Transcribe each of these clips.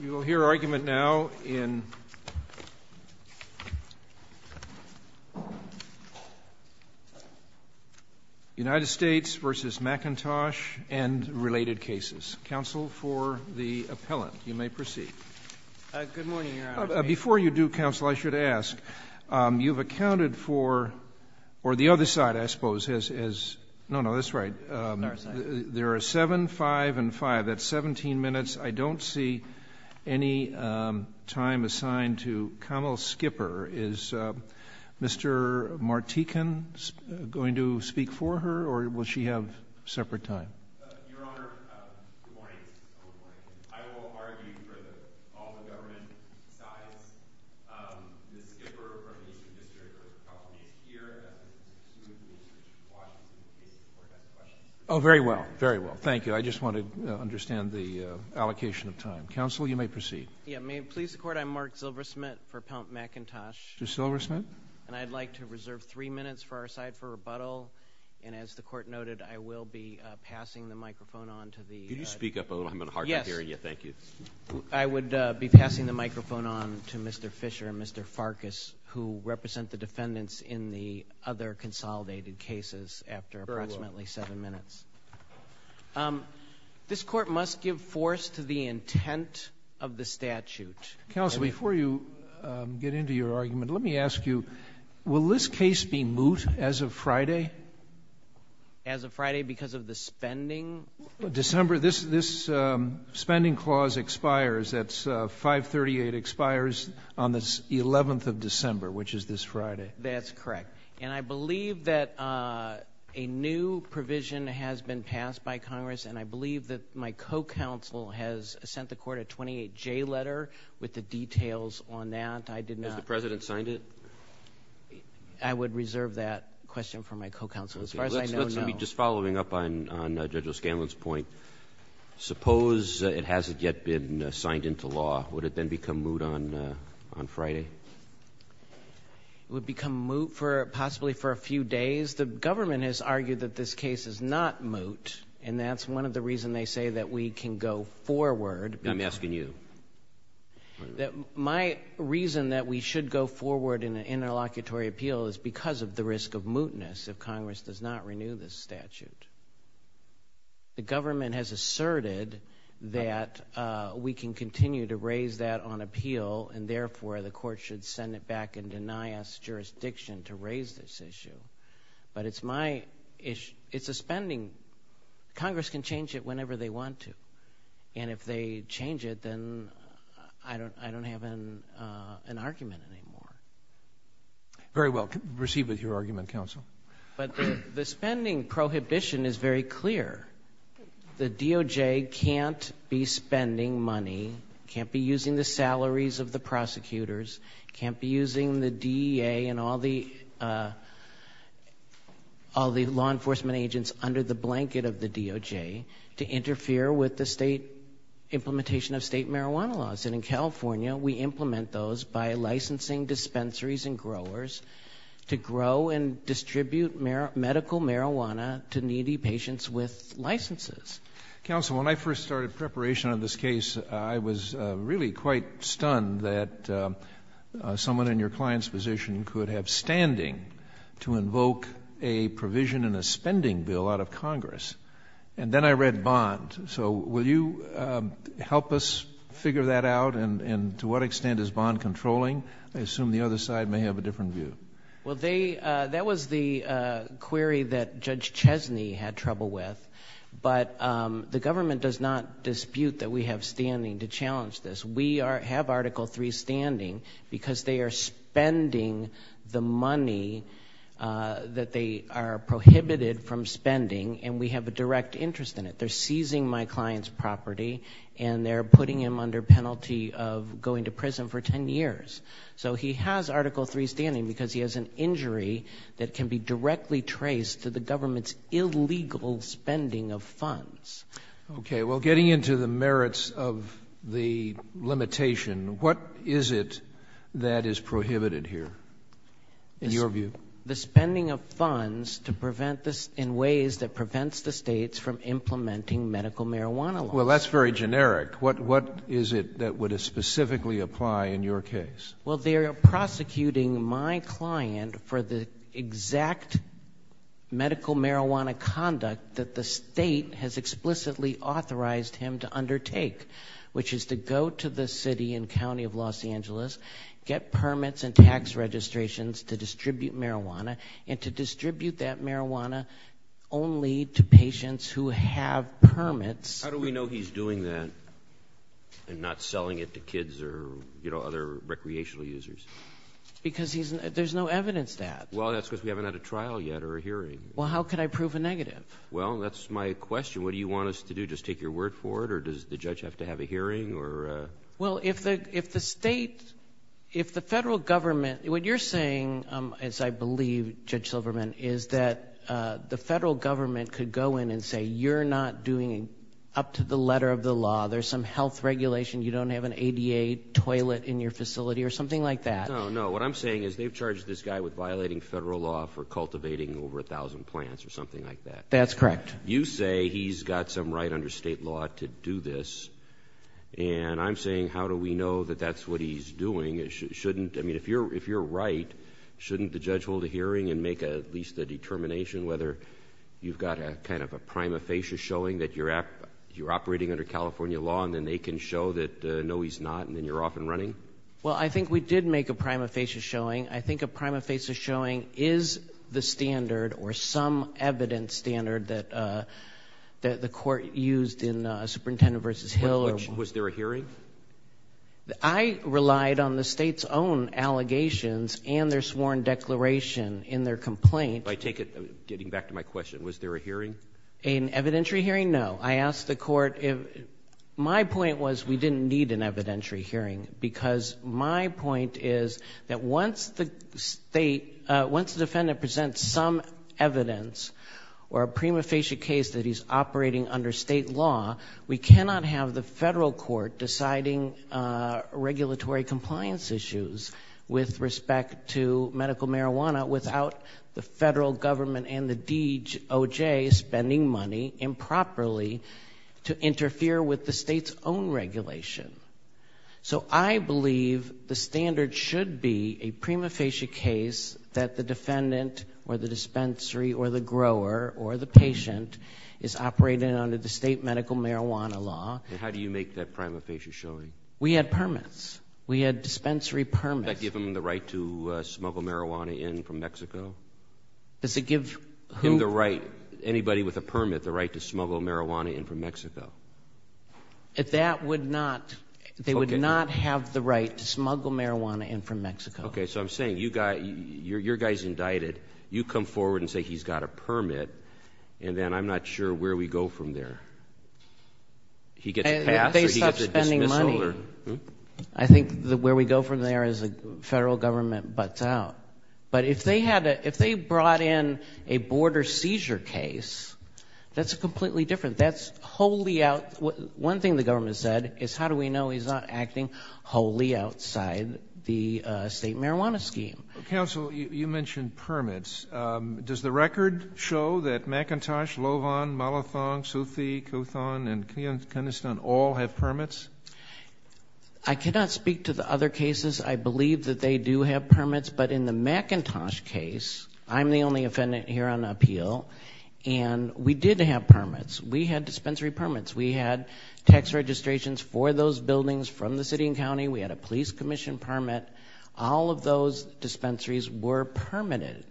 You will hear argument now in United States v. McIntosh and related cases. Counsel for the appellant, you may proceed. Good morning, Your Honor. Before you do, counsel, I should ask, you've accounted for, or the other side, I suppose, has, no, no, that's right. The other side. There are 7, 5, and 5. That's 17 minutes. I don't see any time assigned to Kamal Skipper. Is Mr. Martikin going to speak for her, or will she have separate time? Your Honor, good morning. I will argue for all the government sides. Ms. Skipper, for our nation's interest, will probably adhere to the Washington case before that question. Oh, very well. Very well. Thank you. I just want to understand the allocation of time. Counsel, you may proceed. Yeah. May it please the Court, I'm Mark Zilversmith for Appellant McIntosh. To Zilversmith. And I'd like to reserve 3 minutes for our side for rebuttal. And as the Court noted, I will be passing the microphone on to the— Could you speak up a little? I'm in a hard time hearing you. Thank you. Yes. I would be passing the microphone on to Mr. Fischer and Mr. Farkas, who represent the This Court must give force to the intent of the statute. Counsel, before you get into your argument, let me ask you, will this case be moot as of Friday? As of Friday because of the spending? December—this spending clause expires. That's 538 expires on the 11th of December, which is this Friday. That's correct. And I believe that a new provision has been passed by Congress, and I believe that my co-counsel has sent the Court a 28J letter with the details on that. I did not— Has the President signed it? I would reserve that question for my co-counsel. As far as I know, no. Let's just be following up on Judge O'Scanlan's point. Suppose it hasn't yet been signed into law. Would it then become moot on Friday? It would become moot possibly for a few days. The government has argued that this case is not moot, and that's one of the reasons they say that we can go forward. I'm asking you. My reason that we should go forward in an interlocutory appeal is because of the risk of mootness if Congress does not renew this statute. The government has asserted that we can continue to raise that on appeal, and therefore the Court should send it back and deny us jurisdiction to raise this issue. But it's my issue. It's a spending—Congress can change it whenever they want to. And if they change it, then I don't have an argument anymore. Very well. Proceed with your argument, counsel. But the spending prohibition is very clear. The DOJ can't be spending money, can't be using the salaries of the prosecutors, can't be using the DEA and all the law enforcement agents under the blanket of the DOJ to interfere with the implementation of state marijuana laws. And in California, we implement those by licensing dispensaries and growers to grow and distribute medical marijuana to needy patients with licenses. Counsel, when I first started preparation on this case, I was really quite stunned that someone in your client's position could have standing to invoke a provision in a spending bill out of Congress. And then I read bond. So will you help us figure that out? And to what extent is bond controlling? I assume the other side may have a different view. Well, that was the query that Judge Chesney had trouble with. But the government does not dispute that we have standing to challenge this. We have Article III standing because they are spending the money that they are prohibited from spending, and we have a direct interest in it. They're seizing my client's property, and they're putting him under penalty of going to prison for 10 years. So he has Article III standing because he has an injury that can be directly traced to the government's illegal spending of funds. Okay. Well, getting into the merits of the limitation, what is it that is prohibited here in your view? The spending of funds in ways that prevents the states from implementing medical marijuana laws. Well, that's very generic. What is it that would specifically apply in your case? Well, they are prosecuting my client for the exact medical marijuana conduct that the state has explicitly authorized him to undertake, which is to go to the city and county of Los Angeles, get permits and tax registrations to distribute marijuana, and to distribute that marijuana only to patients who have permits. How do we know he's doing that and not selling it to kids or, you know, other recreational users? Because there's no evidence that. Well, that's because we haven't had a trial yet or a hearing. Well, how could I prove a negative? Well, that's my question. What do you want us to do, just take your word for it, or does the judge have to have a hearing? Well, if the state, if the federal government, what you're saying, as I believe, Judge Silverman, is that the federal government could go in and say you're not doing up to the letter of the law, there's some health regulation, you don't have an ADA toilet in your facility or something like that. No, no, what I'm saying is they've charged this guy with violating federal law for cultivating over 1,000 plants or something like that. That's correct. You say he's got some right under state law to do this, and I'm saying how do we know that that's what he's doing? I mean, if you're right, shouldn't the judge hold a hearing and make at least a determination whether you've got kind of a prima facie showing that you're operating under California law and then they can show that, no, he's not, and then you're off and running? Well, I think we did make a prima facie showing. I think a prima facie showing is the standard or some evidence standard that the court used in Superintendent v. Hill. Was there a hearing? I relied on the state's own allegations and their sworn declaration in their complaint. I take it, getting back to my question, was there a hearing? An evidentiary hearing? No. I asked the court if my point was we didn't need an evidentiary hearing because my point is that once the defendant presents some evidence or a prima facie case that he's operating under state law, we cannot have the federal court deciding regulatory compliance issues with respect to medical marijuana without the federal government and the DOJ spending money improperly to interfere with the state's own regulation. So I believe the standard should be a prima facie case that the defendant or the dispensary or the grower or the patient is operating under the state medical marijuana law. And how do you make that prima facie showing? We had permits. We had dispensary permits. Did that give them the right to smuggle marijuana in from Mexico? Does it give who? Give the right, anybody with a permit, the right to smuggle marijuana in from Mexico. That would not, they would not have the right to smuggle marijuana in from Mexico. Okay, so I'm saying your guy's indicted. You come forward and say he's got a permit, and then I'm not sure where we go from there. He gets passed or he gets a dismissal? If they stop spending money, I think where we go from there is the federal government butts out. But if they brought in a border seizure case, that's completely different. That's wholly out, one thing the government said is how do we know he's not acting wholly outside the state marijuana scheme? Counsel, you mentioned permits. Does the record show that McIntosh, Lovan, Malathong, Suthi, Cuthon, and Keniston all have permits? I cannot speak to the other cases. I believe that they do have permits. But in the McIntosh case, I'm the only offendant here on appeal, and we did have permits. We had dispensary permits. We had tax registrations for those buildings from the city and county. We had a police commission permit. All of those dispensaries were permitted.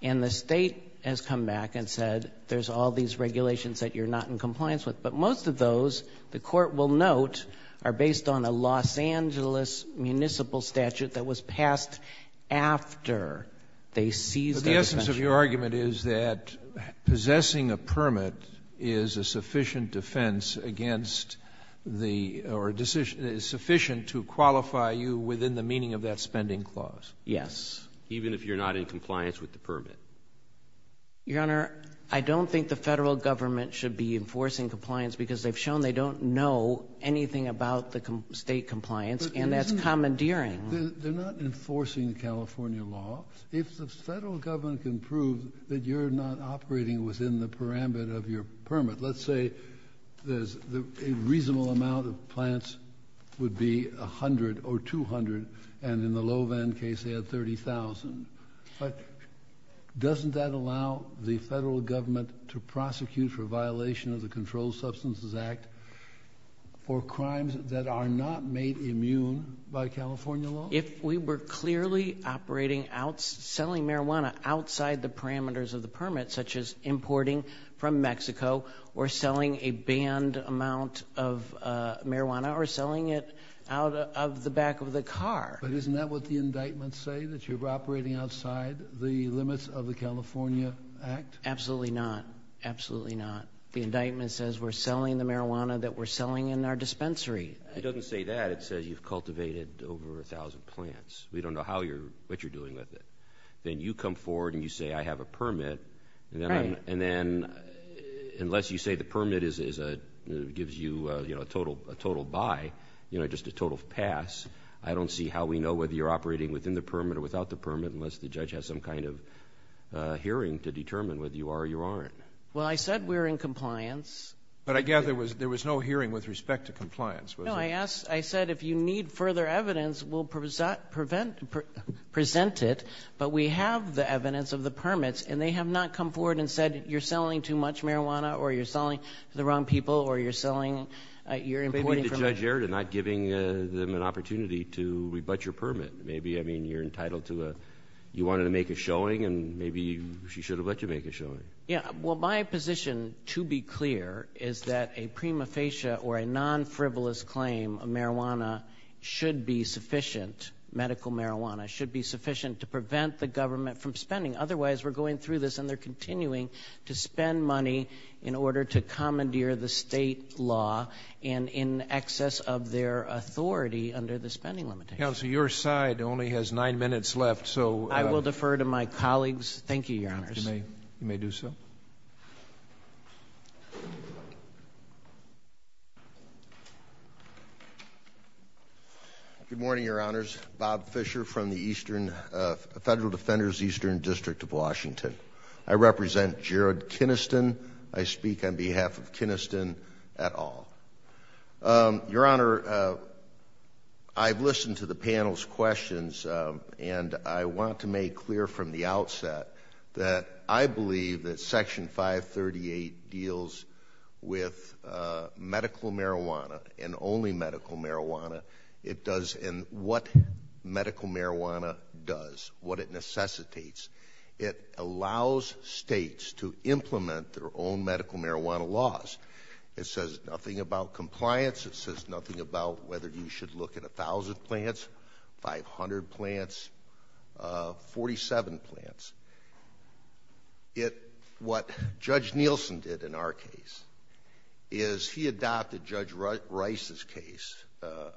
And the state has come back and said there's all these regulations that you're not in compliance with. But most of those, the court will note, are based on a Los Angeles municipal statute that was passed after they seized that dispensary. So your argument is that possessing a permit is a sufficient defense against the, or sufficient to qualify you within the meaning of that spending clause? Yes. Even if you're not in compliance with the permit? Your Honor, I don't think the federal government should be enforcing compliance because they've shown they don't know anything about the state compliance, and that's commandeering. They're not enforcing the California law. If the federal government can prove that you're not operating within the parameter of your permit, let's say there's a reasonable amount of plants would be 100 or 200, and in the Low Van case they had 30,000. But doesn't that allow the federal government to prosecute for violation of the Controlled Substances Act for crimes that are not made immune by California law? If we were clearly operating out, selling marijuana outside the parameters of the permit, such as importing from Mexico, or selling a banned amount of marijuana, or selling it out of the back of the car. But isn't that what the indictments say, that you're operating outside the limits of the California Act? Absolutely not. Absolutely not. The indictment says we're selling the marijuana that we're selling in our dispensary. It doesn't say that. It says you've cultivated over 1,000 plants. We don't know what you're doing with it. Then you come forward and you say I have a permit, and then unless you say the permit gives you a total buy, just a total pass, I don't see how we know whether you're operating within the permit or without the permit unless the judge has some kind of hearing to determine whether you are or you aren't. Well, I said we're in compliance. But I gather there was no hearing with respect to compliance, was there? No, I said if you need further evidence, we'll present it, but we have the evidence of the permits, and they have not come forward and said you're selling too much marijuana, or you're selling to the wrong people, or you're importing from Mexico. Maybe the judge erred in not giving them an opportunity to rebut your permit. Maybe you're entitled to a – you wanted to make a showing, and maybe she should have let you make a showing. Yeah, well, my position, to be clear, is that a prima facie or a non-frivolous claim of marijuana should be sufficient, medical marijuana, should be sufficient to prevent the government from spending. Otherwise, we're going through this, and they're continuing to spend money in order to commandeer the state law and in excess of their authority under the spending limitation. Counsel, your side only has nine minutes left, so – I will defer to my colleagues. Thank you, Your Honors. You may do so. Good morning, Your Honors. Bob Fisher from the Federal Defenders Eastern District of Washington. I represent Jared Kiniston. Your Honor, I've listened to the panel's questions, and I want to make clear from the outset that I believe that Section 538 deals with medical marijuana and only medical marijuana. It does – and what medical marijuana does, what it necessitates. It allows states to implement their own medical marijuana laws. It says nothing about compliance. It says nothing about whether you should look at 1,000 plants, 500 plants, 47 plants. What Judge Nielsen did in our case is he adopted Judge Rice's case,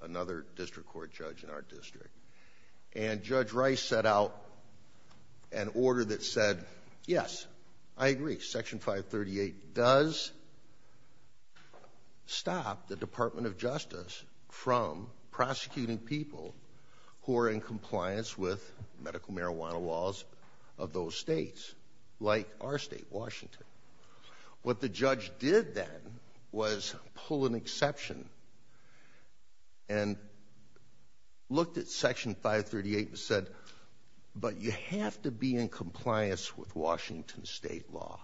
another district court judge in our district. And Judge Rice set out an order that said, yes, I agree. Section 538 does stop the Department of Justice from prosecuting people who are in compliance with medical marijuana laws of those states, like our state, Washington. What the judge did then was pull an exception and looked at Section 538 and said, but you have to be in compliance with Washington state law.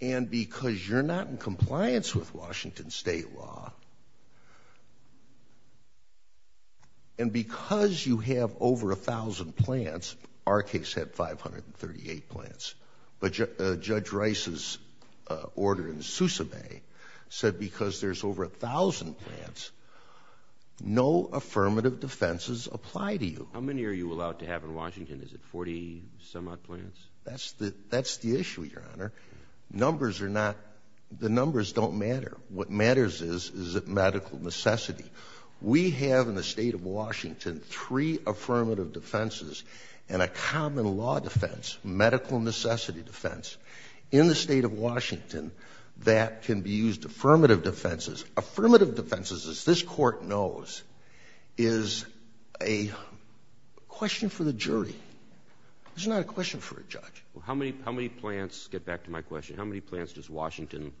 And because you're not in compliance with Washington state law, and because you have over 1,000 plants, our case had 538 plants. But Judge Rice's order in Sousa Bay said because there's over 1,000 plants, no affirmative defenses apply to you. How many are you allowed to have in Washington? Is it 40-some-odd plants? That's the issue, Your Honor. Numbers are not – the numbers don't matter. What matters is, is it medical necessity. We have in the state of Washington three affirmative defenses and a common law defense, medical necessity defense, in the state of Washington that can be used affirmative defenses. Affirmative defenses, as this court knows, is a question for the jury. It's not a question for a judge. How many plants – get back to my question – how many plants does Washington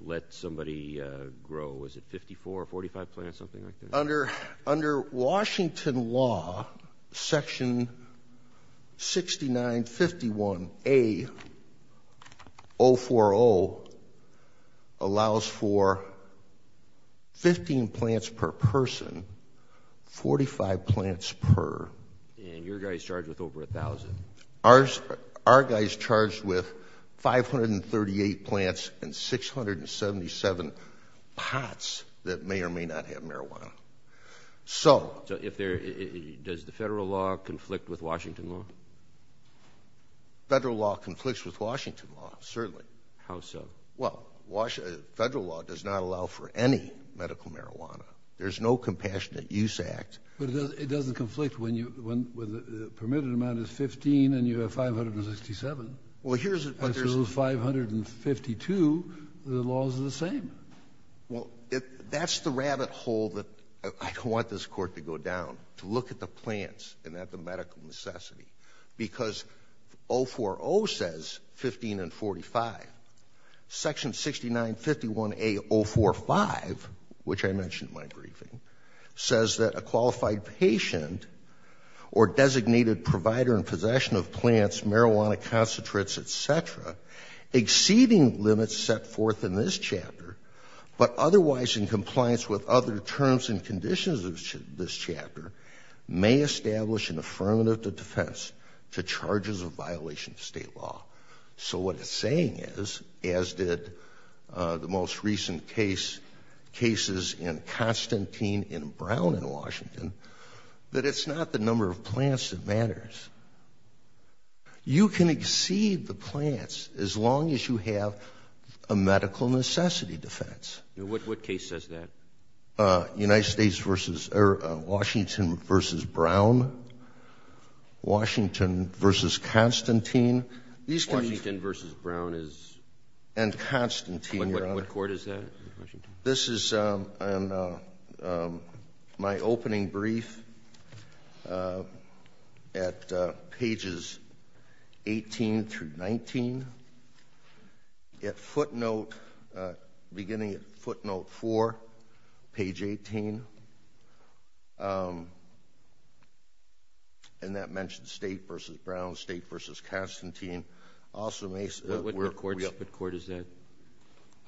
let somebody grow? Is it 54 or 45 plants, something like that? Under Washington law, Section 6951A-040 allows for 15 plants per person, 45 plants per. And your guy's charged with over 1,000. Our guy's charged with 538 plants and 677 pots that may or may not have marijuana. So – Does the federal law conflict with Washington law? Federal law conflicts with Washington law, certainly. How so? Well, federal law does not allow for any medical marijuana. There's no Compassionate Use Act. But it doesn't conflict when you – when the permitted amount is 15 and you have 567. Well, here's – As soon as 552, the laws are the same. Well, that's the rabbit hole that I don't want this court to go down, to look at the plants and at the medical necessity. Because 040 says 15 and 45. Section 6951A-045, which I mentioned in my briefing, says that a qualified patient or designated provider in possession of plants, marijuana, concentrates, et cetera, exceeding limits set forth in this chapter, but otherwise in compliance with other terms and conditions of this chapter, may establish an affirmative defense to charges of violation of state law. So what it's saying is, as did the most recent cases in Constantine and Brown in Washington, that it's not the number of plants that matters. You can exceed the plants as long as you have a medical necessity defense. What case says that? Washington v. Brown. Washington v. Constantine. Washington v. Brown is? And Constantine. What court is that? This is my opening brief at pages 18 through 19. At footnote, beginning at footnote 4, page 18. And that mentions State v. Brown, State v. Constantine. What court is that?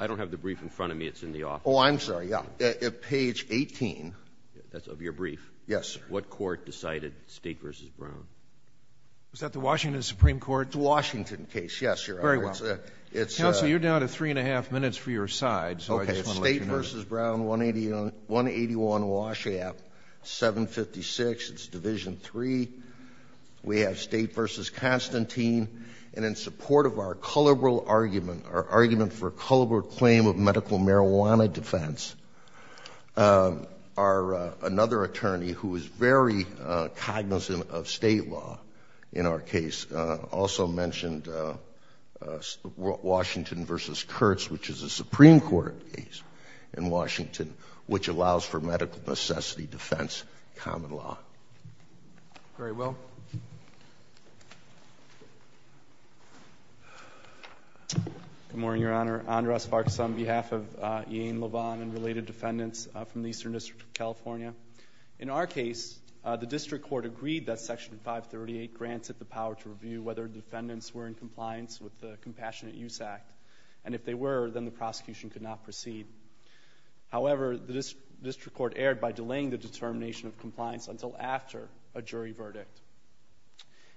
I don't have the brief in front of me. It's in the office. Oh, I'm sorry. Yeah. Page 18. That's of your brief? Yes, sir. What court decided State v. Brown? Was that the Washington Supreme Court? The Washington case, yes, Your Honor. Very well. Counsel, you're down to three and a half minutes for your side, so I just want to let you know. Okay. State v. Brown, 181 Washap, 756, it's Division III. We have State v. Constantine. And in support of our cullible argument, our argument for cullible claim of medical marijuana defense, another attorney who is very cognizant of State law in our case, also mentioned Washington v. Kurtz, which is a Supreme Court case in Washington, which allows for medical necessity defense common law. Very well. Good morning, Your Honor. Andres Vargas on behalf of Iain LeVon and related defendants from the Eastern District of California. In our case, the district court agreed that Section 538 grants it the power to review whether defendants were in compliance with the Compassionate Use Act, and if they were, then the prosecution could not proceed. However, the district court erred by delaying the determination of compliance until after a jury verdict.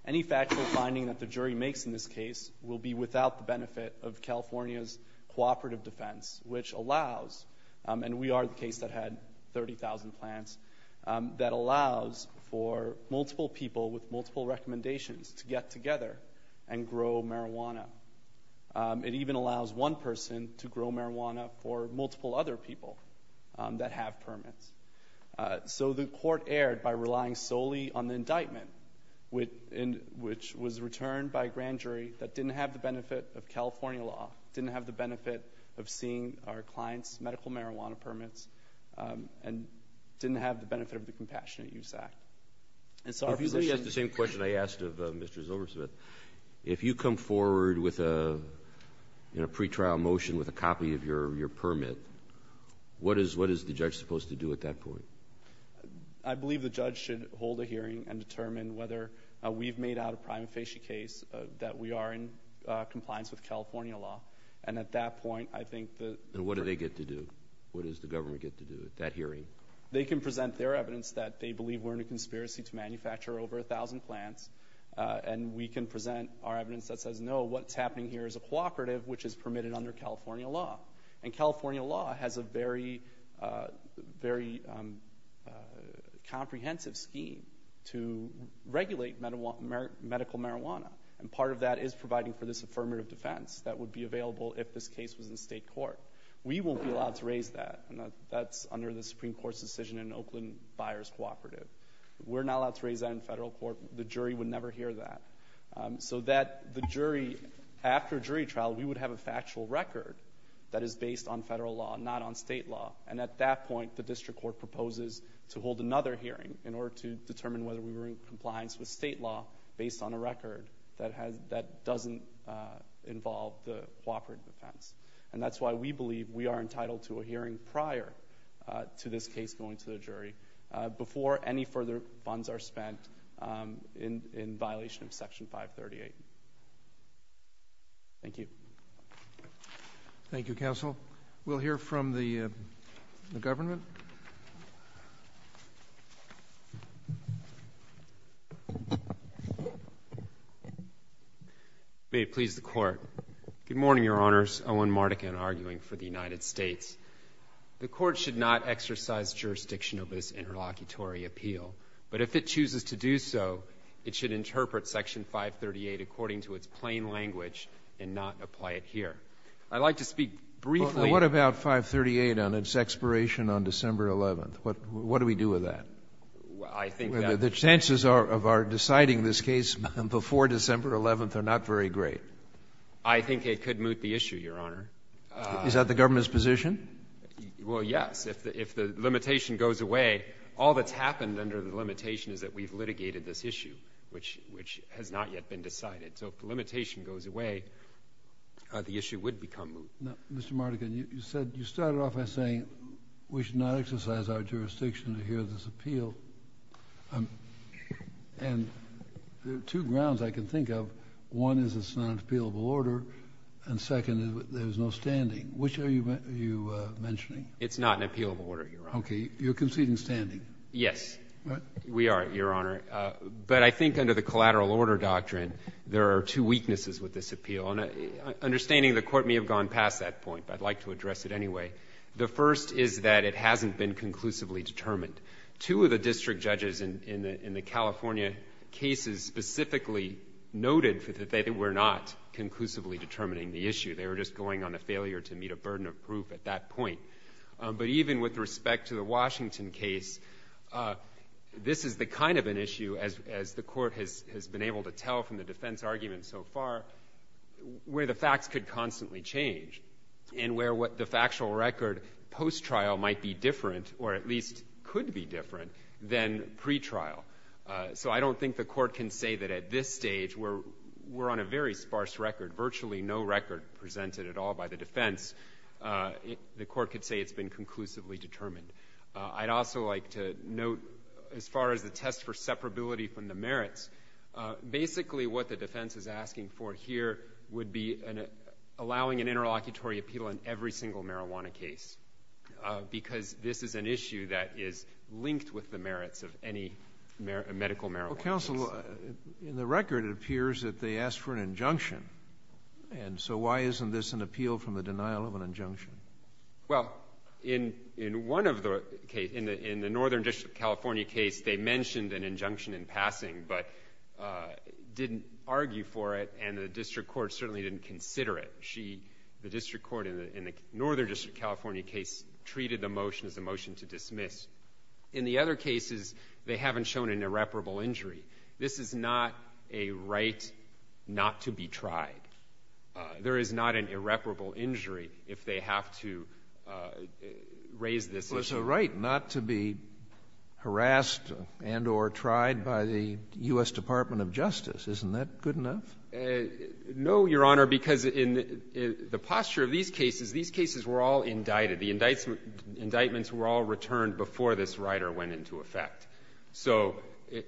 Any factual finding that the jury makes in this case will be without the benefit of California's cooperative defense, which allows, and we are the case that had 30,000 plans, that allows for multiple people with multiple recommendations to get together and grow marijuana. It even allows one person to grow marijuana for multiple other people that have permits. So the court erred by relying solely on the indictment, which was returned by a grand jury that didn't have the benefit of California law, didn't have the benefit of seeing our clients' medical marijuana permits, and didn't have the benefit of the Compassionate Use Act. If you're going to ask the same question I asked of Mr. Zilbersmith, if you come forward with a pretrial motion with a copy of your permit, what is the judge supposed to do at that point? I believe the judge should hold a hearing and determine whether we've made out a prima facie case that we are in compliance with California law, and at that point, I think that— And what do they get to do? What does the government get to do at that hearing? They can present their evidence that they believe we're in a conspiracy to manufacture over 1,000 plants, and we can present our evidence that says, no, what's happening here is a cooperative, which is permitted under California law, and California law has a very comprehensive scheme to regulate medical marijuana, and part of that is providing for this affirmative defense that would be available if this case was in state court. We won't be allowed to raise that. That's under the Supreme Court's decision in Oakland Buyers Cooperative. We're not allowed to raise that in federal court. The jury would never hear that. So that the jury, after a jury trial, we would have a factual record that is based on federal law, not on state law, and at that point, the district court proposes to hold another hearing in order to determine whether we were in compliance with state law based on a record that doesn't involve the cooperative defense. And that's why we believe we are entitled to a hearing prior to this case going to the jury before any further funds are spent in violation of Section 538. Thank you. Thank you, counsel. We'll hear from the government. May it please the Court. Good morning, Your Honors. Owen Mardikin, arguing for the United States. The Court should not exercise jurisdiction over this interlocutory appeal, but if it chooses to do so, it should interpret Section 538 according to its plain language and not apply it here. I'd like to speak briefly— Well, what about 538 on its expiration on December 11th? What do we do with that? The chances of our deciding this case before December 11th are not very great. I think it could moot the issue, Your Honor. Is that the government's position? Well, yes. If the limitation goes away, all that's happened under the limitation is that we've litigated this issue, which has not yet been decided. So if the limitation goes away, the issue would become moot. Now, Mr. Mardikin, you started off by saying we should not exercise our jurisdiction to hear this appeal. And there are two grounds I can think of. One is it's not an appealable order. And second is there is no standing. Which are you mentioning? It's not an appealable order, Your Honor. Okay. You're conceding standing? Yes, we are, Your Honor. But I think under the collateral order doctrine, there are two weaknesses with this appeal. And understanding the Court may have gone past that point, but I'd like to address it anyway. The first is that it hasn't been conclusively determined. Two of the district judges in the California cases specifically noted that they were not conclusively determining the issue. They were just going on a failure to meet a burden of proof at that point. But even with respect to the Washington case, this is the kind of an issue, as the Court has been able to tell from the defense argument so far, where the facts could constantly change and where the factual record post-trial might be different, or at least could be different, than pretrial. So I don't think the Court can say that at this stage, we're on a very sparse record, virtually no record presented at all by the defense, the Court could say it's been conclusively determined. I'd also like to note, as far as the test for separability from the merits, basically what the defense is asking for here would be allowing an interlocutory appeal in every single marijuana case, because this is an issue that is linked with the merits of any medical marijuana case. Counsel, in the record it appears that they asked for an injunction. So why isn't this an appeal from the denial of an injunction? Well, in one of the cases, in the Northern District of California case, they mentioned an injunction in passing but didn't argue for it, and the district court certainly didn't consider it. The district court in the Northern District of California case treated the motion as a motion to dismiss. In the other cases, they haven't shown an irreparable injury. This is not a right not to be tried. There is not an irreparable injury if they have to raise this issue. Well, it's a right not to be harassed and or tried by the U.S. Department of Justice. Isn't that good enough? No, Your Honor, because in the posture of these cases, these cases were all indicted. The indictments were all returned before this rider went into effect. So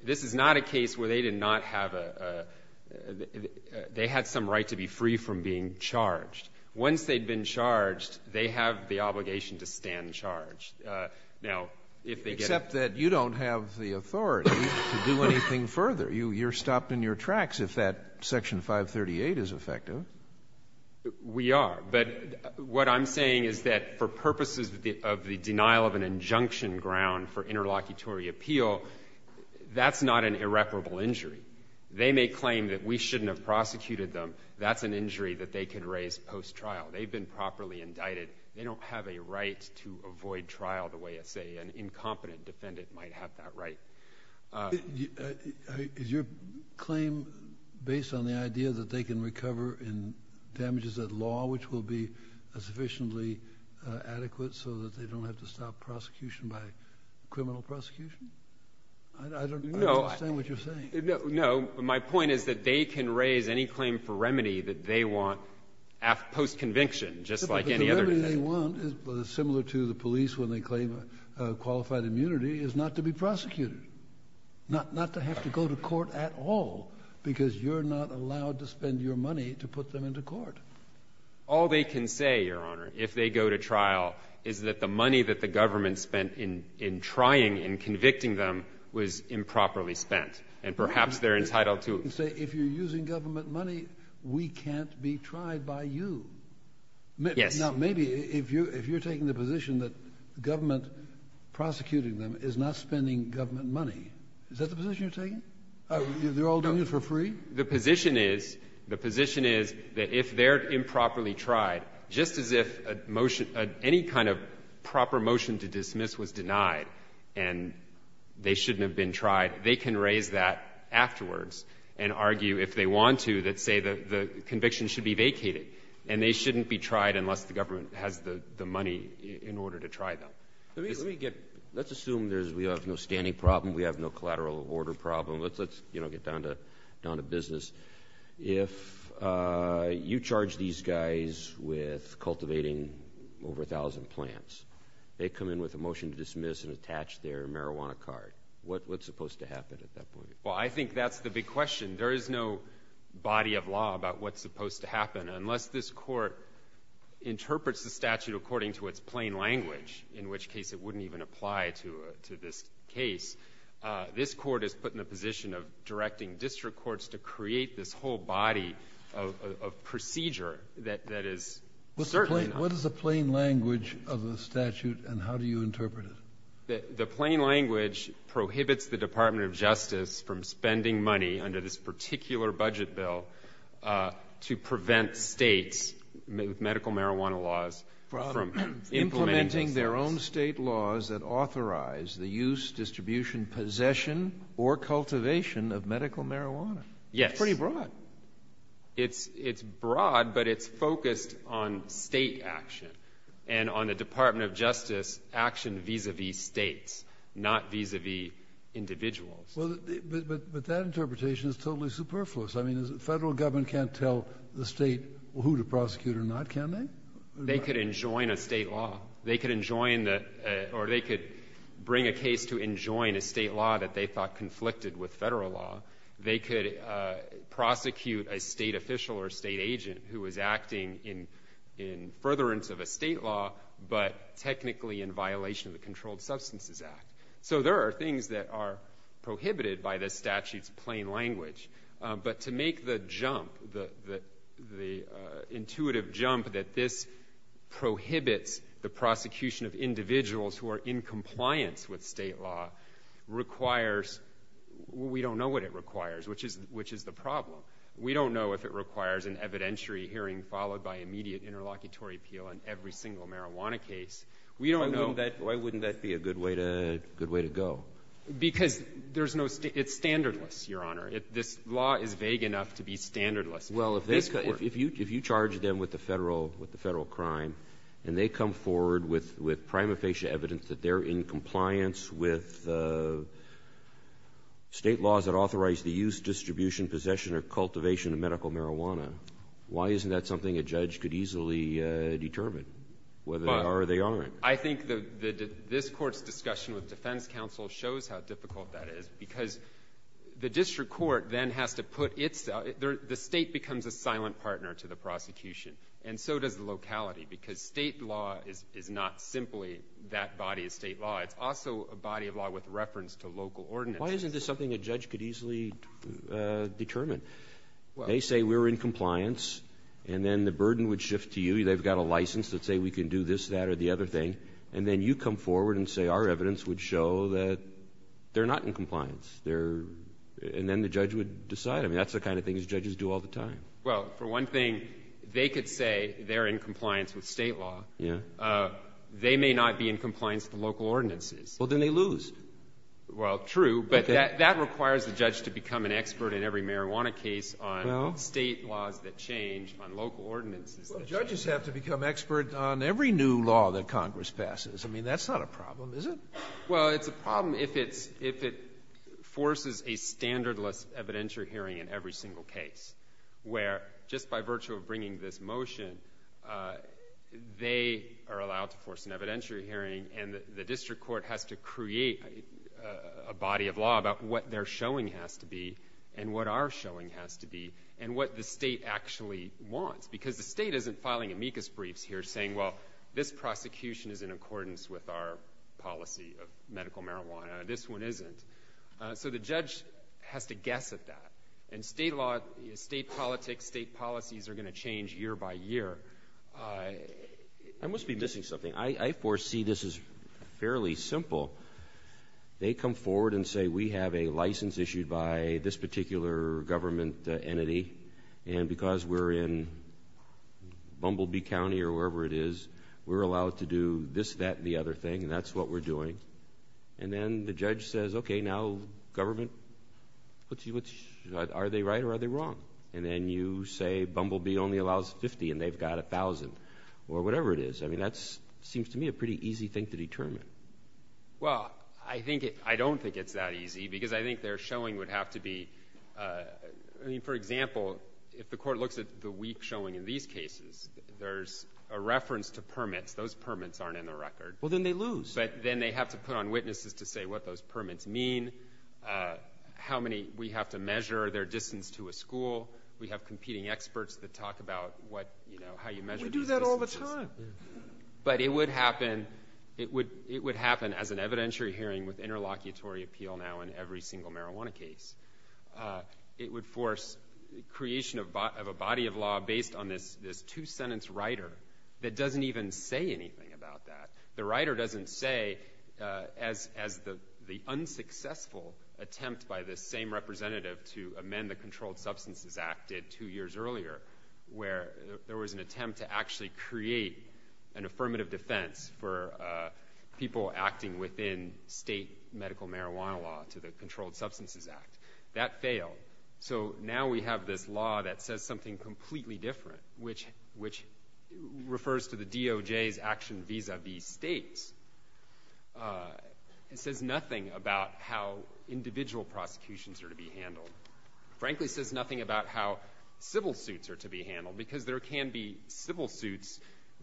this is not a case where they did not have a—they had some right to be free from being charged. Once they'd been charged, they have the obligation to stand charged. Now, if they get— Except that you don't have the authority to do anything further. You're stopped in your tracks if that Section 538 is effective. We are, but what I'm saying is that for purposes of the denial of an injunction ground for interlocutory appeal, that's not an irreparable injury. They may claim that we shouldn't have prosecuted them. That's an injury that they can raise post-trial. They've been properly indicted. They don't have a right to avoid trial the way, say, an incompetent defendant might have that right. Is your claim based on the idea that they can recover in damages of law, which will be sufficiently adequate so that they don't have to stop prosecution by criminal prosecution? I don't understand what you're saying. No, my point is that they can raise any claim for remedy that they want post-conviction, just like any other— similar to the police when they claim qualified immunity, is not to be prosecuted, not to have to go to court at all, because you're not allowed to spend your money to put them into court. All they can say, Your Honor, if they go to trial, is that the money that the government spent in trying and convicting them was improperly spent, and perhaps they're entitled to it. Say, if you're using government money, we can't be tried by you. Yes. Now, maybe if you're taking the position that government prosecuting them is not spending government money, is that the position you're taking? They're all doing it for free? The position is that if they're improperly tried, just as if any kind of proper motion to dismiss was denied and they shouldn't have been tried, they can raise that afterwards and argue, if they want to, that, say, the conviction should be vacated, and they shouldn't be tried unless the government has the money in order to try them. Let's assume we have no standing problem, we have no collateral order problem. Let's get down to business. If you charge these guys with cultivating over 1,000 plants, they come in with a motion to dismiss and attach their marijuana card. What's supposed to happen at that point? Well, I think that's the big question. There is no body of law about what's supposed to happen. Unless this court interprets the statute according to its plain language, in which case it wouldn't even apply to this case, this court is put in the position of directing district courts to create this whole body of procedure that is certainly not. What is the plain language of the statute, and how do you interpret it? The plain language prohibits the Department of Justice from spending money under this particular budget bill to prevent states with medical marijuana laws from implementing those laws. Implementing their own state laws that authorize the use, distribution, possession, or cultivation of medical marijuana. Yes. It's pretty broad. It's broad, but it's focused on state action and on the Department of Justice action vis-à-vis states, not vis-à-vis individuals. But that interpretation is totally superfluous. The federal government can't tell the state who to prosecute or not, can they? They could enjoin a state law. They could bring a case to enjoin a state law that they thought conflicted with federal law. They could prosecute a state official or a state agent who is acting in furtherance of a state law, but technically in violation of the Controlled Substances Act. So there are things that are prohibited by this statute's plain language. But to make the jump, the intuitive jump that this prohibits the prosecution of individuals who are in compliance with state law, we don't know what it requires, which is the problem. We don't know if it requires an evidentiary hearing followed by immediate interlocutory appeal in every single marijuana case. Why wouldn't that be a good way to go? Because it's standardless, Your Honor. This law is vague enough to be standardless. Well, if you charge them with a federal crime and they come forward with prima facie evidence that they're in compliance with state laws that authorize the use, distribution, possession, or cultivation of medical marijuana, why isn't that something a judge could easily determine, whether they are or they aren't? I think this Court's discussion with defense counsel shows how difficult that is because the district court then has to put its – the state becomes a silent partner to the prosecution, and so does the locality because state law is not simply that body of state law. It's also a body of law with reference to local ordinances. Why isn't this something a judge could easily determine? They say we're in compliance, and then the burden would shift to you. They've got a license that say we can do this, that, or the other thing, and then you come forward and say our evidence would show that they're not in compliance, and then the judge would decide. I mean that's the kind of thing judges do all the time. Well, for one thing, they could say they're in compliance with state law. Yeah. They may not be in compliance with local ordinances. Well, then they lose. Well, true, but that requires the judge to become an expert in every marijuana case on state laws that change, on local ordinances that change. They have to become expert on every new law that Congress passes. I mean that's not a problem, is it? Well, it's a problem if it forces a standardless evidentiary hearing in every single case where just by virtue of bringing this motion, they are allowed to force an evidentiary hearing, and the district court has to create a body of law about what their showing has to be and what our showing has to be and what the state actually wants because the state isn't filing amicus briefs here saying, well, this prosecution is in accordance with our policy of medical marijuana. This one isn't. So the judge has to guess at that, and state politics, state policies are going to change year by year. I must be missing something. I foresee this is fairly simple. They come forward and say we have a license issued by this particular government entity, and because we're in Bumblebee County or wherever it is, we're allowed to do this, that, and the other thing, and that's what we're doing. And then the judge says, okay, now government, are they right or are they wrong? And then you say Bumblebee only allows 50 and they've got 1,000 or whatever it is. I mean that seems to me a pretty easy thing to determine. Well, I don't think it's that easy because I think their showing would have to be, I mean, for example, if the court looks at the week showing in these cases, there's a reference to permits. Those permits aren't in the record. Well, then they lose. But then they have to put on witnesses to say what those permits mean, how many we have to measure, their distance to a school. We have competing experts that talk about how you measure those distances. We do that all the time. But it would happen as an evidentiary hearing with interlocutory appeal now in every single marijuana case. It would force creation of a body of law based on this two-sentence writer that doesn't even say anything about that. The writer doesn't say as the unsuccessful attempt by the same representative to amend the Controlled Substances Act did two years earlier where there was an attempt to actually create an affirmative defense for people acting within state medical marijuana law to the Controlled Substances Act. That failed. So now we have this law that says something completely different, which refers to the DOJ's action vis-a-vis states. It says nothing about how individual prosecutions are to be handled. It frankly says nothing about how civil suits are to be handled because there can be civil suits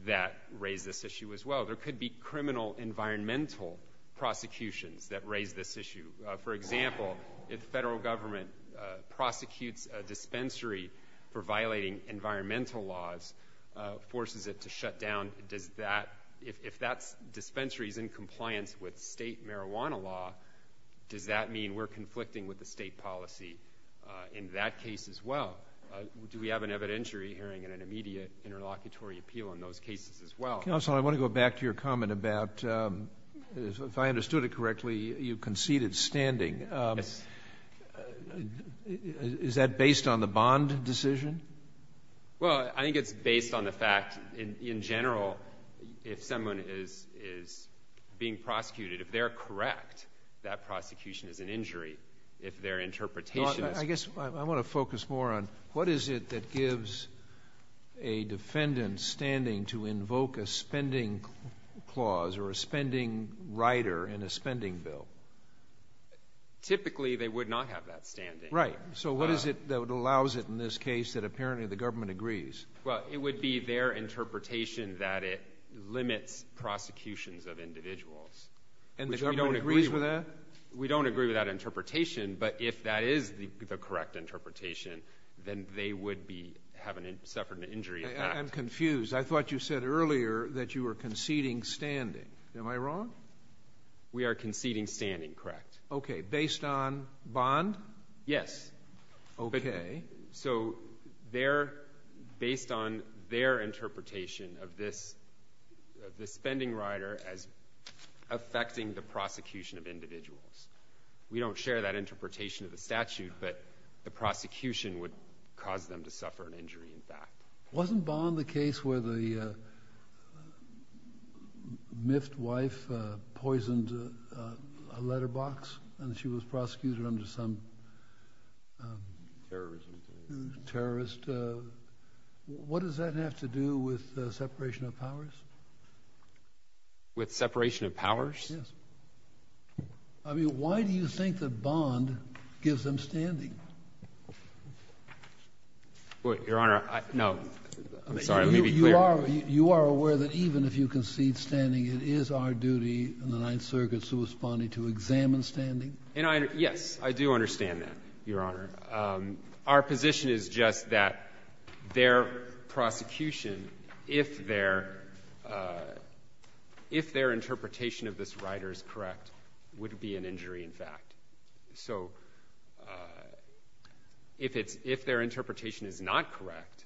that raise this issue as well. There could be criminal environmental prosecutions that raise this issue. For example, if the federal government prosecutes a dispensary for violating environmental laws, forces it to shut down, if that dispensary is in compliance with state marijuana law, does that mean we're conflicting with the state policy in that case as well? Do we have an evidentiary hearing and an immediate interlocutory appeal in those cases as well? Counsel, I want to go back to your comment about if I understood it correctly, you conceded standing. Yes. Is that based on the bond decision? Well, I think it's based on the fact in general if someone is being prosecuted, if they're correct, that prosecution is an injury. If their interpretation is— I guess I want to focus more on what is it that gives a defendant standing to invoke a spending clause or a spending rider in a spending bill? Typically, they would not have that standing. Right. So what is it that allows it in this case that apparently the government agrees? Well, it would be their interpretation that it limits prosecutions of individuals. And the government agrees with that? We don't agree with that interpretation, but if that is the correct interpretation, then they would be having suffered an injury in fact. I'm confused. I thought you said earlier that you were conceding standing. Am I wrong? We are conceding standing, correct. Okay. Based on bond? Yes. Okay. So they're—based on their interpretation of this spending rider as affecting the prosecution of individuals. We don't share that interpretation of the statute, but the prosecution would cause them to suffer an injury in fact. Wasn't bond the case where the miffed wife poisoned a letterbox and she was prosecuted under some terrorist—what does that have to do with separation of powers? With separation of powers? Yes. I mean, why do you think that bond gives them standing? Your Honor, I—no. I'm sorry. Let me be clear. You are aware that even if you concede standing, it is our duty in the Ninth Circuit's corresponding to examine standing? Yes. I do understand that, Your Honor. Our position is just that their prosecution, if their interpretation of this rider is correct, would be an injury in fact. So if their interpretation is not correct,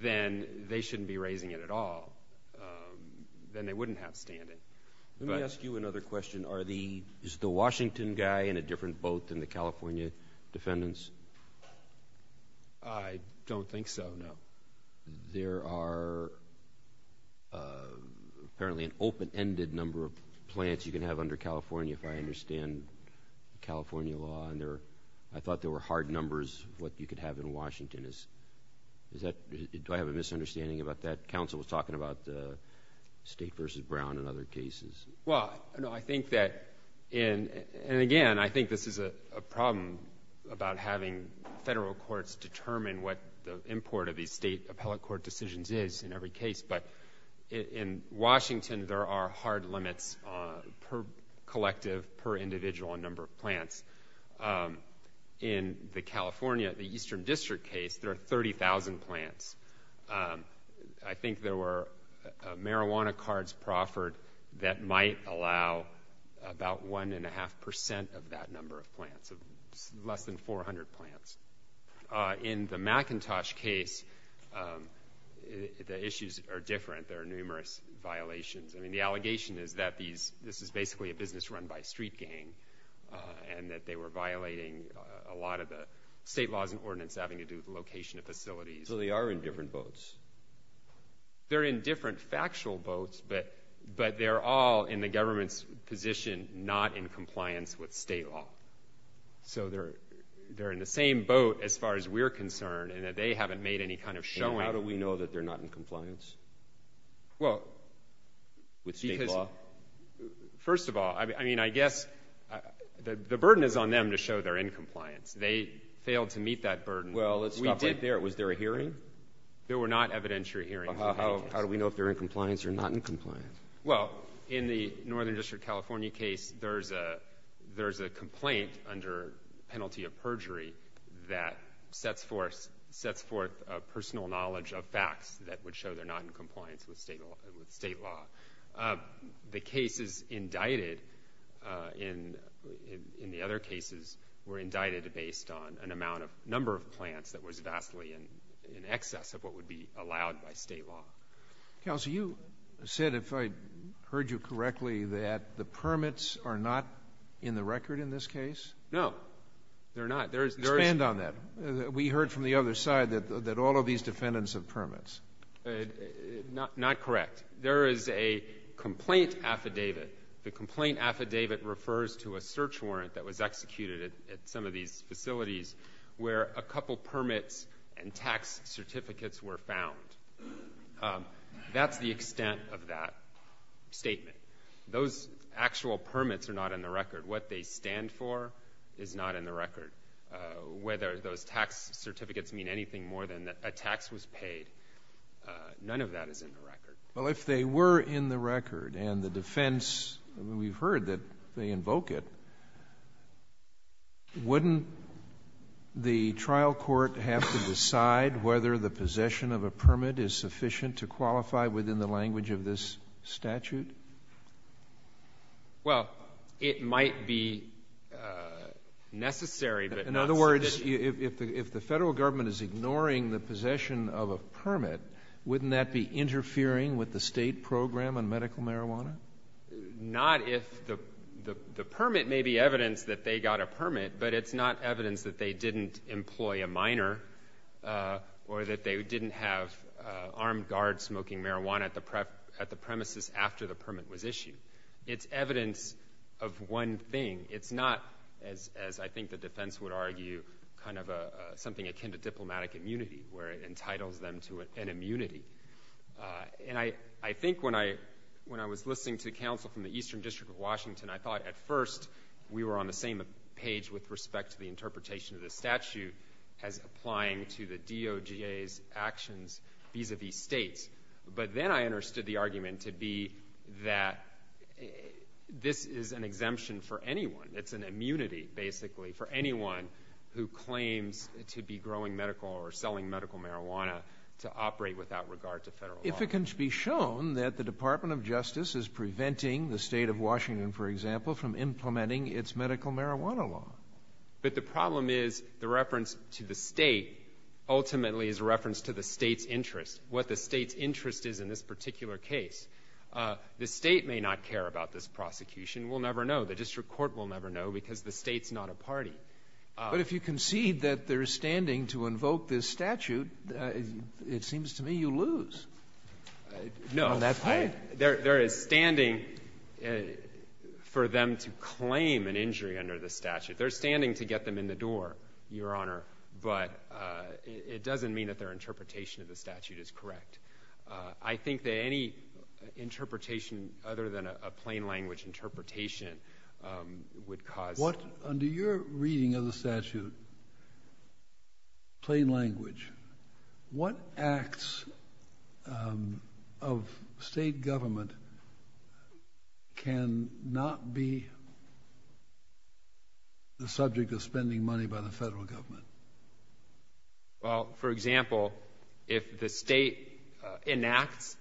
then they shouldn't be raising it at all. Then they wouldn't have standing. Let me ask you another question. Is the Washington guy in a different boat than the California defendants? I don't think so, no. There are apparently an open-ended number of plants you can have under California, if I understand California law. I thought there were hard numbers what you could have in Washington. Do I have a misunderstanding about that? The counsel was talking about the state versus Brown in other cases. Well, I think that—and again, I think this is a problem about having federal courts determine what the import of these state appellate court decisions is in every case. But in Washington, there are hard limits per collective, per individual, on number of plants. In the California, the Eastern District case, there are 30,000 plants. I think there were marijuana cards proffered that might allow about 1.5% of that number of plants, less than 400 plants. In the McIntosh case, the issues are different. There are numerous violations. I mean, the allegation is that this is basically a business run by a street gang and that they were violating a lot of the state laws and ordinance having to do with location of facilities. So they are in different boats. They're in different factual boats, but they're all in the government's position not in compliance with state law. So they're in the same boat as far as we're concerned in that they haven't made any kind of showing. How do we know that they're not in compliance with state law? First of all, I mean, I guess the burden is on them to show they're in compliance. They failed to meet that burden. We did there. Was there a hearing? There were not evidentiary hearings. How do we know if they're in compliance or not in compliance? Well, in the Northern District California case, there's a complaint under penalty of perjury that sets forth a personal knowledge of facts that would show they're not in compliance with state law. The cases indicted in the other cases were indicted based on an amount of number of plants that was vastly in excess of what would be allowed by state law. Counsel, you said, if I heard you correctly, that the permits are not in the record in this case? No, they're not. Expand on that. We heard from the other side that all of these defendants have permits. Not correct. There is a complaint affidavit. The complaint affidavit refers to a search warrant that was executed at some of these facilities where a couple permits and tax certificates were found. That's the extent of that statement. Those actual permits are not in the record. What they stand for is not in the record. Whether those tax certificates mean anything more than a tax was paid, none of that is in the record. Well, if they were in the record and the defense, we've heard that they invoke it, wouldn't the trial court have to decide whether the possession of a permit is sufficient to qualify within the language of this statute? Well, it might be necessary, but not sufficient. In other words, if the federal government is ignoring the possession of a permit, wouldn't that be interfering with the state program on medical marijuana? Not if the permit may be evidence that they got a permit, but it's not evidence that they didn't employ a minor or that they didn't have armed guards smoking marijuana at the premises after the permit was issued. It's evidence of one thing. It's not, as I think the defense would argue, something akin to diplomatic immunity where it entitles them to an immunity. I think when I was listening to counsel from the Eastern District of Washington, I thought at first we were on the same page with respect to the interpretation of this statute as applying to the DOJ's actions vis-a-vis states. But then I understood the argument to be that this is an exemption for anyone. It's an immunity, basically, for anyone who claims to be growing medical or selling medical marijuana to operate without regard to federal law. If it can be shown that the Department of Justice is preventing the state of Washington, for example, from implementing its medical marijuana law. But the problem is the reference to the state ultimately is a reference to the state's interest, what the state's interest is in this particular case. The state may not care about this prosecution. We'll never know. The district court will never know because the state's not a party. But if you concede that there is standing to invoke this statute, it seems to me you lose. No. There is standing for them to claim an injury under the statute. There is standing to get them in the door, Your Honor, but it doesn't mean that their interpretation of the statute is correct. I think that any interpretation other than a plain language interpretation would cause. Under your reading of the statute, plain language, what acts of state government can not be the subject of spending money by the federal government? Well, for example, if the state enacts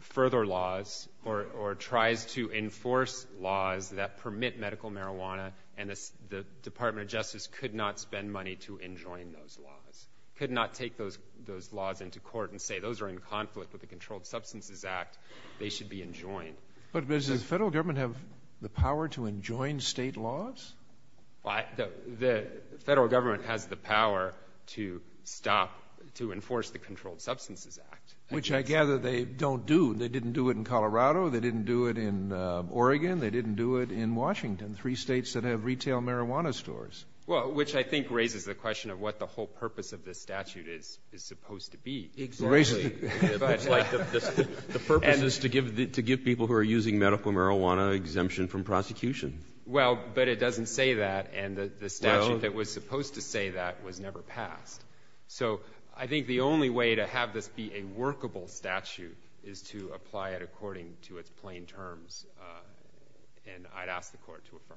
further laws or tries to enforce laws that permit medical marijuana and the Department of Justice could not spend money to enjoin those laws, could not take those laws into court and say those are in conflict with the Controlled Substances Act, they should be enjoined. But does the federal government have the power to enjoin state laws? The federal government has the power to stop, to enforce the Controlled Substances Act. Which I gather they don't do. They didn't do it in Colorado. They didn't do it in Oregon. They didn't do it in Washington, three states that have retail marijuana stores. Well, which I think raises the question of what the whole purpose of this statute is supposed to be. Exactly. The purpose is to give people who are using medical marijuana exemption from prosecution. Well, but it doesn't say that, and the statute that was supposed to say that was never passed. So I think the only way to have this be a workable statute is to apply it according to its plain terms. And I'd ask the Court to affirm.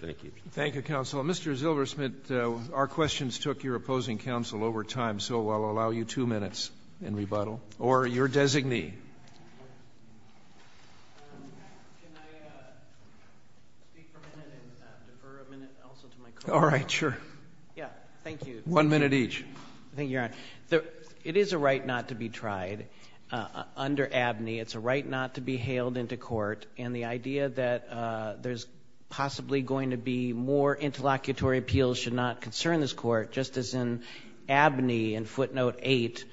Thank you. Thank you, Counsel. Mr. Zilbersmith, our questions took your opposing counsel over time, so I'll allow you two minutes in rebuttal. Or your designee. Can I speak for a minute and defer a minute also to my colleague? All right, sure. Yeah, thank you. One minute each. I think you're on. It is a right not to be tried under ABNY. It's a right not to be hailed into court. And the idea that there's possibly going to be more interlocutory appeals should not concern this Court, just as in ABNY and footnote 8,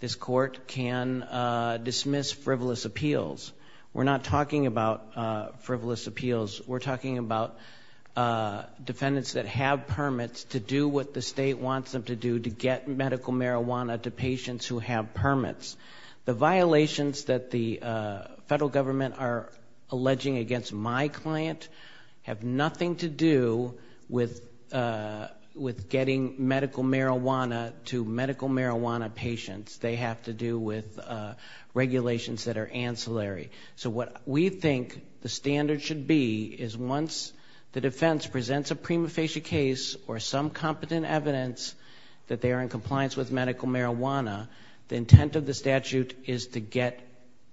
this Court can dismiss frivolous appeals. We're not talking about frivolous appeals. We're talking about defendants that have permits to do what the state wants them to do, to get medical marijuana to patients who have permits. The violations that the federal government are alleging against my client have nothing to do with getting medical marijuana to medical marijuana patients. They have to do with regulations that are ancillary. So what we think the standard should be is once the defense presents a prima facie case or some competent evidence that they are in compliance with medical marijuana, the intent of the statute is to get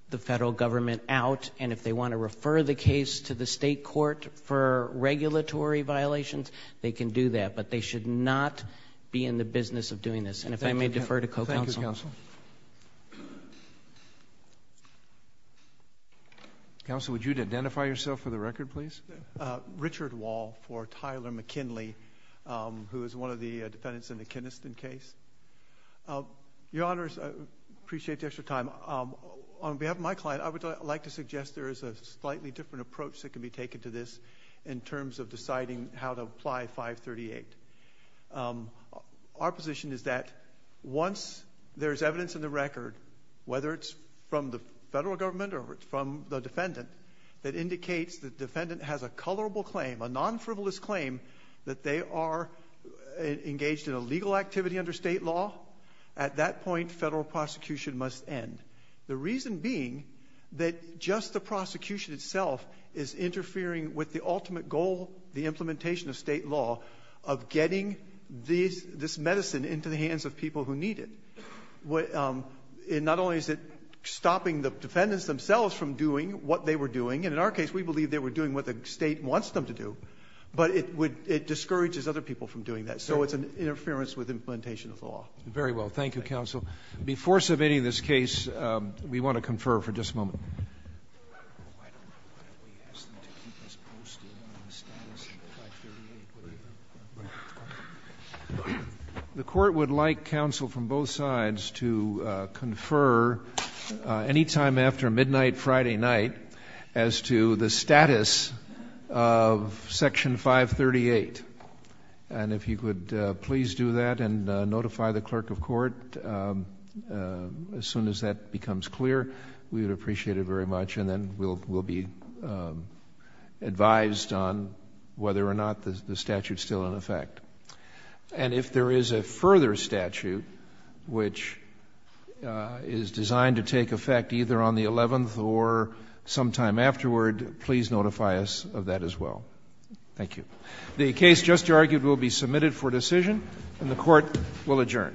the federal government out. And if they want to refer the case to the state court for regulatory violations, they can do that. But they should not be in the business of doing this. And if I may defer to co-counsel. Thank you, counsel. Counsel, would you identify yourself for the record, please? Richard Wall for Tyler McKinley, who is one of the defendants in the Kinniston case. Your Honors, I appreciate the extra time. On behalf of my client, I would like to suggest there is a slightly different approach that can be taken to this in terms of deciding how to apply 538. Our position is that once there is evidence in the record, whether it's from the federal government or from the defendant, that indicates the defendant has a colorable claim, a non-frivolous claim, that they are engaged in a legal activity under state law, at that point federal prosecution must end. The reason being that just the prosecution itself is interfering with the ultimate goal, the implementation of state law, of getting this medicine into the hands of people who need it. Not only is it stopping the defendants themselves from doing what they were doing, and in our case we believe they were doing what the state wants them to do, but it discourages other people from doing that. So it's an interference with implementation of the law. Very well. Thank you, Counsel. Before submitting this case, we want to confer for just a moment. I don't know why we asked them to keep us posted on the status of 538. The Court would like Counsel from both sides to confer any time after midnight Friday night as to the status of Section 538. And if you could please do that and notify the Clerk of Court as soon as that becomes clear, we would appreciate it very much and then we'll be advised on whether or not the statute is still in effect. And if there is a further statute which is designed to take effect either on the 11th or sometime afterward, please notify us of that as well. Thank you. The case just argued will be submitted for decision and the Court will adjourn.